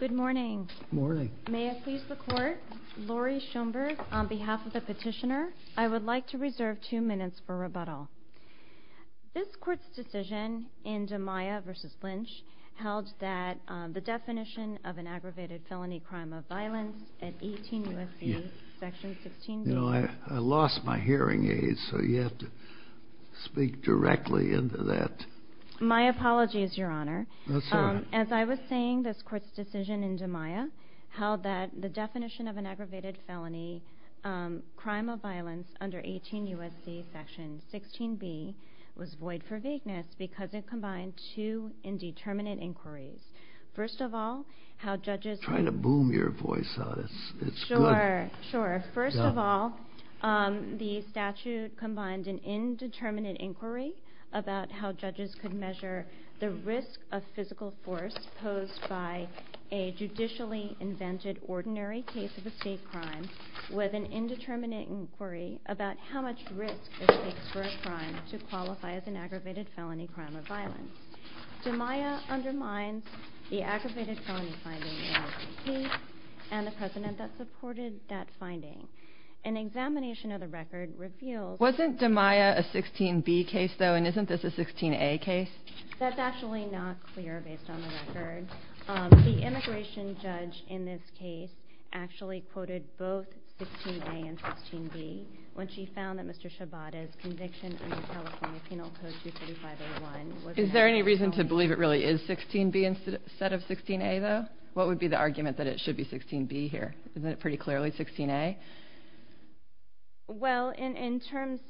Good morning. May I please the court, Lori Schoenberg, on behalf of the petitioner, I would like to reserve two minutes for rebuttal. This court's decision in DiMaio v. Lynch held that the definition of an aggravated felony crime of violence at 18 U.S.C. section 16 B was void for vagueness because it combined two indeterminate inquiries. First of all, the statute combined an indeterminate inquiry about how judges could measure the risk of physical force posed by a judicially invented ordinary case of a state crime with an indeterminate inquiry about how much risk it takes for a crime to qualify as an aggravated felony crime of violence. DiMaio undermines the aggravated felony crime case and the precedent that supported that finding. An examination of the record reveals... Wasn't DiMaio a 16 B case though and isn't this a 16 A case? That's actually not clear based on the record. The immigration judge in this case actually quoted both 16 A and 16 B when she found that Mr. Shibata's conviction under California Penal Code 23501... Is there any reason to believe it really is 16 B instead of 16 A though? What would be the argument that it should be 16 B here? Isn't it pretty clearly 16 A? Well, in terms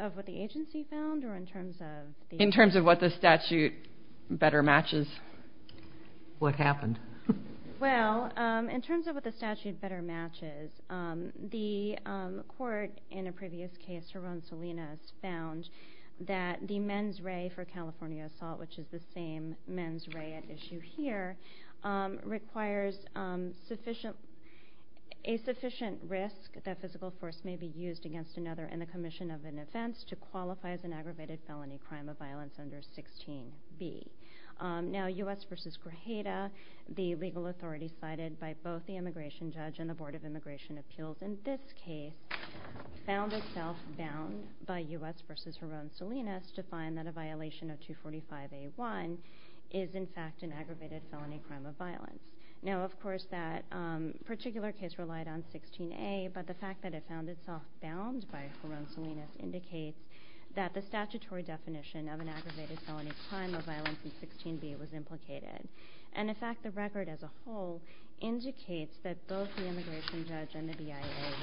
of what the agency found or in terms of... In terms of what the statute better matches. What happened? Well, in terms of what the statute better matches, the court in a previous case, Mr. Ron Salinas, found that the men's ray for California assault, which is the same men's ray at issue here, requires sufficient... A sufficient risk that physical force may be used against another in the commission of an offense to qualify as an aggravated felony crime of violence under 16 B. Now, U.S. v. Grajeda, the legal authority cited by both the immigration judge and the Board of Immigration Appeals in this case, found itself bound by U.S. v. Ron Salinas to find that a violation of 245A1 is, in fact, an aggravated felony crime of violence. Now, of course, that particular case relied on 16 A, but the fact that it found itself bound by Ron Salinas indicates that the statutory definition of an aggravated felony crime of violence in 16 B was implicated. And, in fact, the record as a whole indicates that both the immigration judge and the BIA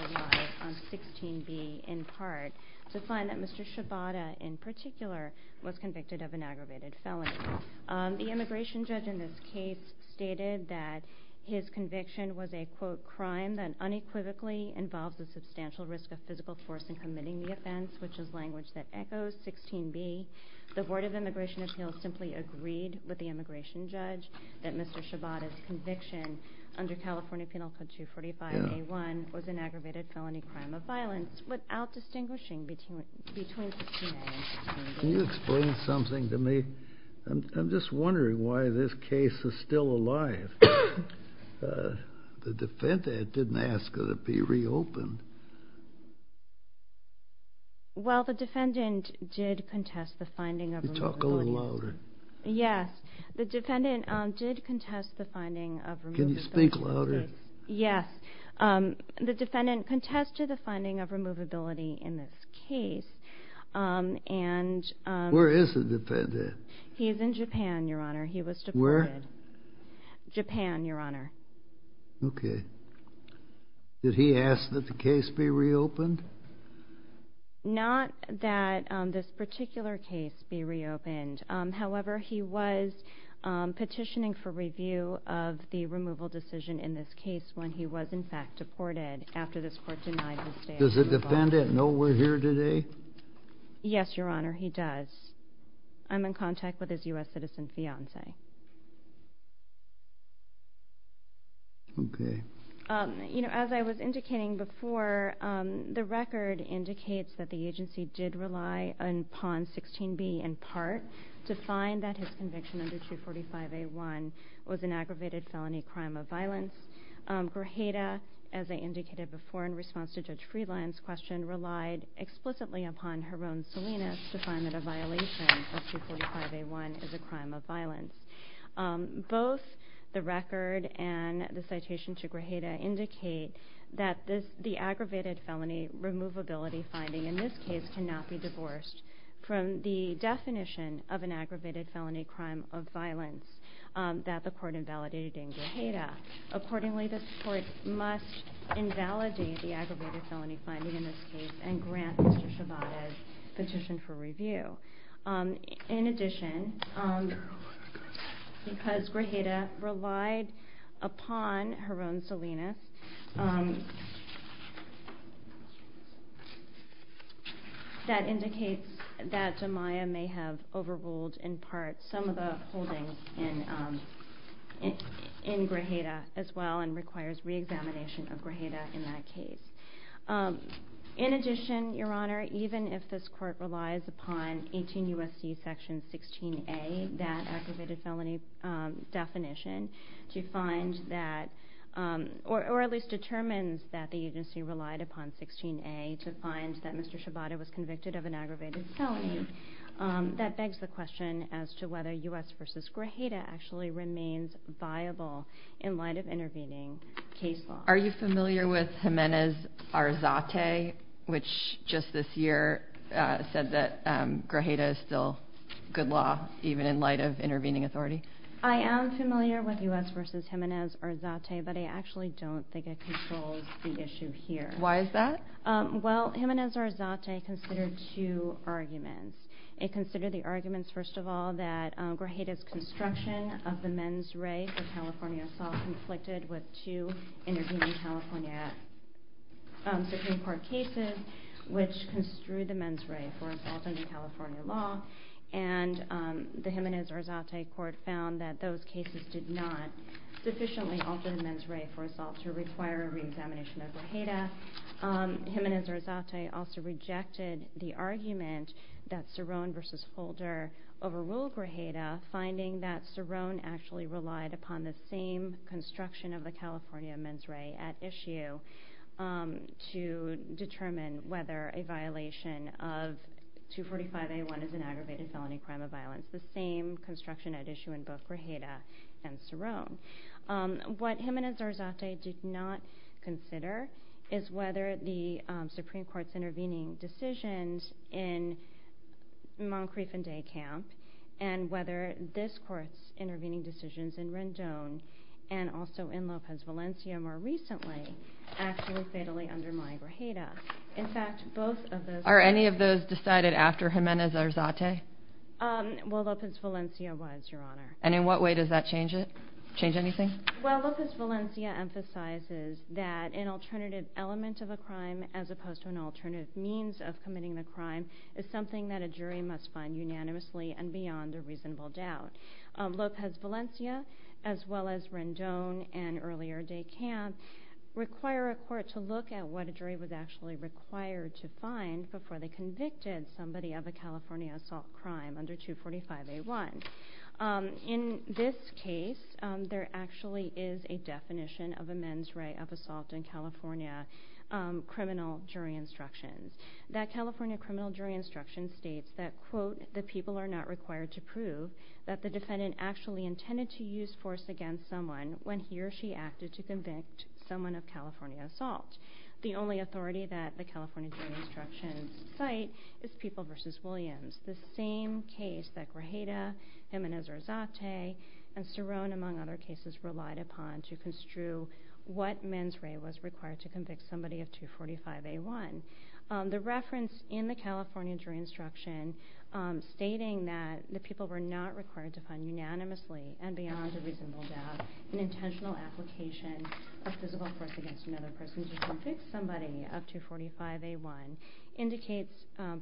relied on 16 B in part to find that Mr. Shibata in particular was convicted of an aggravated felony. The immigration judge in this case stated that his conviction was a, quote, crime that unequivocally involves a substantial risk of physical force in committing the offense, which is language that Mr. Shibata's conviction under California Penal Code 245A1 was an aggravated felony crime of violence without distinguishing between 16 A and 16 B. Can you explain something to me? I'm just wondering why this case is still alive. The defendant didn't ask it to be reopened. Well, the defendant did contest the finding of removability in this case, and he's in Japan, Your Honor. He was Did he ask for the case to be reopened? Not that this particular case be reopened. However, he was petitioning for review of the removal decision in this case when he was, in fact, deported after this Court denied his stay. Does the defendant know we're here today? Yes, Your Honor, he does. I'm in contact with his U.S. citizen fiance. As I was indicating before, the record indicates that the agency did rely upon 16b, in part, to find that his conviction under 245A1 was an aggravated felony crime of violence. Grajeda, as I indicated before in response to Judge Freeland's question, relied explicitly upon Jerome Salinas to find that a violation of 245A1 is a crime of violence. Both the record and the citation to Grajeda indicate that the aggravated felony removability finding in this case cannot be divorced from the definition of an aggravated felony crime of violence that the Court invalidated in Grajeda. Accordingly, this Court must invalidate the aggravated felony finding in this case and grant Mr. Shabata's petition for review. In addition, because Grajeda relied upon Jerome Salinas, that indicates that Jemiah may have overruled, in part, some of the holdings in Grajeda as well and requires re-examination of Grajeda in that case. In addition, Your Honor, even if this Court relies upon 18 U.S.C. section 16a, that aggravated felony definition, or at least determines that the agency relied upon 16a to find that Mr. Shabata was convicted of an aggravated felony, that begs the question as to whether U.S. v. Grajeda actually remains viable in light of intervening case law. Are you familiar with Jimenez-Arzate, which just this year said that Grajeda is still good law, even in light of intervening authority? I am familiar with U.S. v. Jimenez-Arzate, but I actually don't think it controls the issue here. Why is that? Well, Jimenez-Arzate considered two arguments. It considered the arguments, first of all, that Grajeda's construction of the men's ray for California assault conflicted with two intervening California Supreme Court cases, which construed the men's ray for assault under California law, and the Jimenez-Arzate court found that those cases did not sufficiently alter the men's ray for assault to require a re-examination of Grajeda. In addition to that, Jimenez-Arzate also rejected the argument that Cerrone v. Holder overruled Grajeda, finding that Cerrone actually relied upon the same construction of the California men's ray at issue to determine whether a violation of 245A1 is an aggravated felony crime of violence, the same construction at issue in both Grajeda and Cerrone. What Jimenez-Arzate did not consider is whether the Supreme Court's intervening decisions in Moncrief and Day Camp and whether this court's intervening decisions in Rendon and also in Lopez Valencia more recently actually fatally undermine Grajeda. In fact, both of those— Are any of those decided after Jimenez-Arzate? Well, Lopez Valencia was, Your Honor. And in what way does that change anything? Well, Lopez Valencia emphasizes that an alternative element of a crime as opposed to an alternative means of committing the crime is something that a jury must find unanimously and beyond a reasonable doubt. Lopez Valencia, as well as Rendon and earlier Day Camp, require a court to look at what a jury was actually required to find before they convicted somebody of a California assault crime under 245A1. In this case, there actually is a definition of a men's right of assault in California criminal jury instructions. That California criminal jury instruction states that, quote, the people are not required to prove that the defendant actually intended to use force against someone when he or she acted to convict someone of California assault. The only authority that the California jury instructions cite is People v. Williams, the same case that Grajeda, Jimenez-Arzate, and Cerrone, among other cases, relied upon to construe what men's right was required to convict somebody of 245A1. The reference in the California jury instruction stating that the people were not required to find unanimously and beyond a reasonable doubt an intentional application of physical force against another person to convict somebody of 245A1 indicates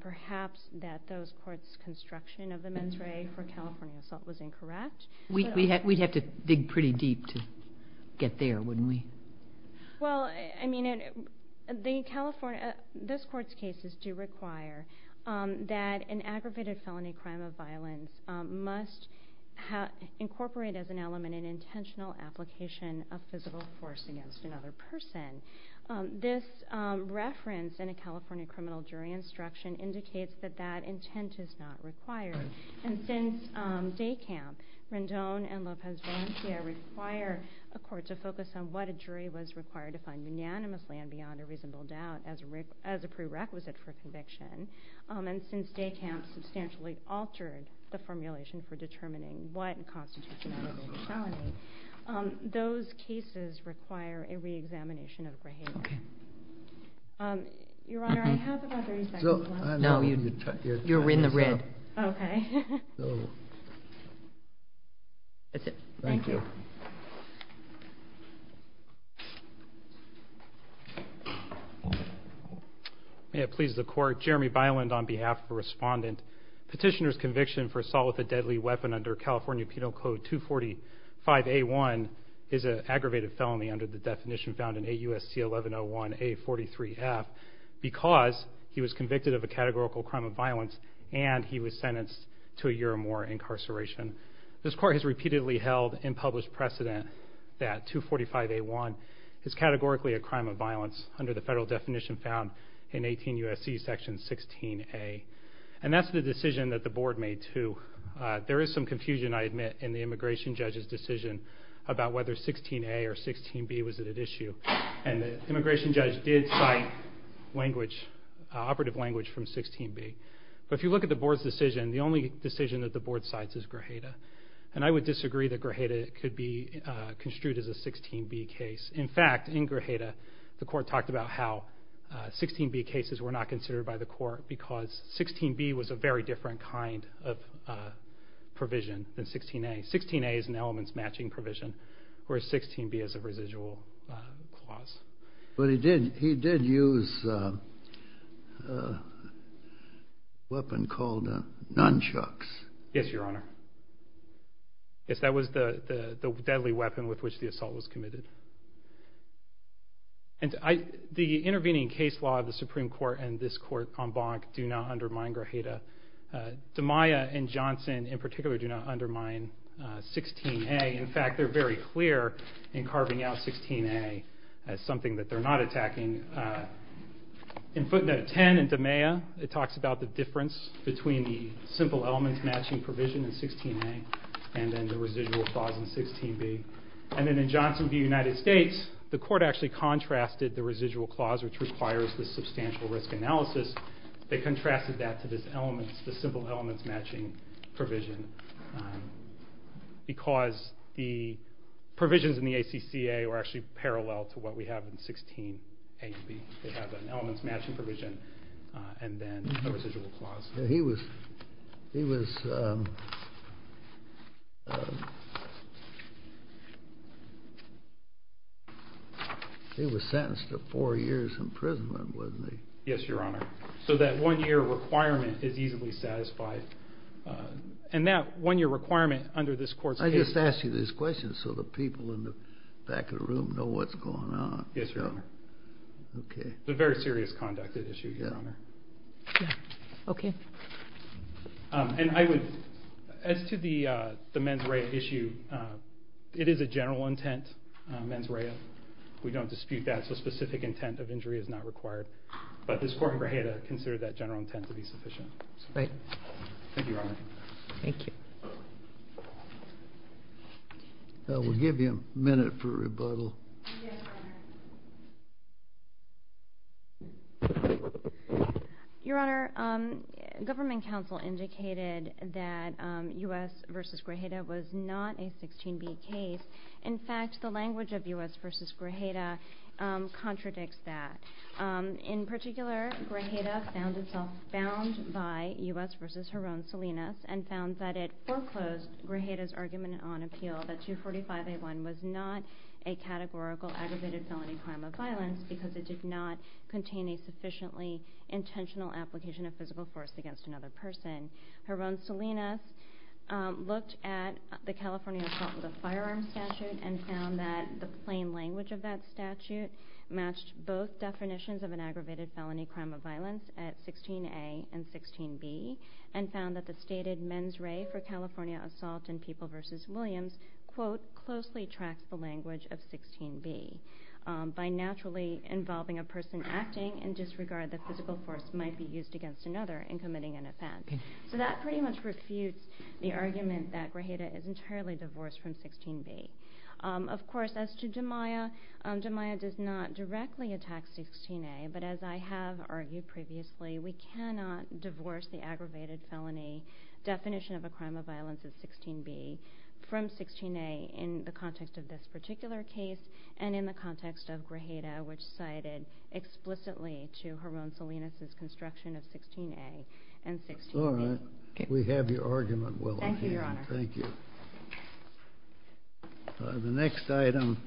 perhaps that those courts' construction of the mens re for California assault was incorrect. We'd have to dig pretty deep to get there, wouldn't we? Well, I mean, the California, this court's cases do require that an aggravated felony crime of violence must incorporate as an element an intentional application of physical force against another person. This reference in a California criminal jury instruction indicates that that intent is not required. And since Daycamp, Rendon, and Lopez-Valencia require a court to focus on what a jury was required to find unanimously and beyond a reasonable doubt as a prerequisite for conviction, and since Daycamp substantially altered the formulation for determining what constitutes an aggravated felony, those cases require a re-examination of Grajeda. Your Honor, I have about 30 seconds left. No, you're in the red. Okay. That's it. Thank you. May it please the court, Jeremy Byland on behalf of a respondent. Petitioner's conviction for assault with a deadly weapon under California Penal Code 245A1 is an aggravated felony under the definition found in AUST1101A43F because he was convicted of a categorical crime of violence and he was convicted of assault with a deadly weapon. He was sentenced to a year or more incarceration. This court has repeatedly held in published precedent that 245A1 is categorically a crime of violence under the federal definition found in 18 U.S.C. section 16A. And that's the decision that the board made, too. There is some confusion, I admit, in the immigration judge's decision about whether 16A or 16B was at issue. And the immigration judge did cite language, operative language from 16B. But if you look at the board's decision, the only decision that the board cites is Grajeda. And I would disagree that Grajeda could be construed as a 16B case. In fact, in Grajeda, the court talked about how 16B cases were not considered by the court because 16B was a very different kind of provision than 16A. 16A is an elements matching provision, whereas 16B is a residual clause. But he did use a weapon called nunchucks. Yes, Your Honor. Yes, that was the deadly weapon with which the assault was committed. And the intervening case law of the Supreme Court and this court en banc do not undermine Grajeda. DiMaia and Johnson, in particular, do not undermine 16A. In fact, they're very clear in carving out 16A as something that they're not attacking. In footnote 10 in DiMaia, it talks about the difference between the simple elements matching provision in 16A and then the residual clause in 16B. And then in Johnson v. United States, the court actually contrasted the residual clause, which requires this substantial risk analysis. They contrasted that to the simple elements matching provision because the provisions in the ACCA are actually parallel to what we have in 16A and B. They have an elements matching provision and then a residual clause. He was sentenced to four years imprisonment, wasn't he? Yes, Your Honor. So that one year requirement is easily satisfied. And that one year requirement under this court's case law... I just asked you this question so the people in the back of the room know what's going on. Yes, Your Honor. It's a very serious conduct issue, Your Honor. Okay. As to the mens rea issue, it is a general intent mens rea. We don't dispute that. The specific intent of injury is not required. But this court in Grajeda considered that general intent to be sufficient. Thank you, Your Honor. Thank you. We'll give you a minute for rebuttal. Yes, Your Honor. Your Honor, Government Counsel indicated that U.S. v. Grajeda was not a 16B case. In fact, the language of U.S. v. Grajeda contradicts that. In particular, Grajeda found itself bound by U.S. v. Jaron Salinas and found that it foreclosed Grajeda's argument on appeal that 245A1 was not a categorical aggravated felony crime of violence because it did not contain a sufficiently intentional application of physical force against another person. Jaron Salinas looked at the California assault with a firearm statute and found that the plain language of that statute matched both definitions of an aggravated felony crime of violence at 16A and 16B and found that the stated mens rea for California assault in People v. Williams quote, closely tracks the language of 16B by naturally involving a person acting in disregard that physical force might be used against another in committing an offense. So that pretty much refutes the argument that Grajeda is entirely divorced from 16B. Of course, as to DiMaia, DiMaia does not directly attack 16A, but as I have argued previously, we cannot divorce the aggravated felony definition of a crime of violence at 16B from 16A in the context of this particular case and in the context of Grajeda, which cited explicitly to Jaron Salinas' construction of 16A and 16B. All right. We have your argument, Willow. Thank you, Your Honor. Thank you. The next item...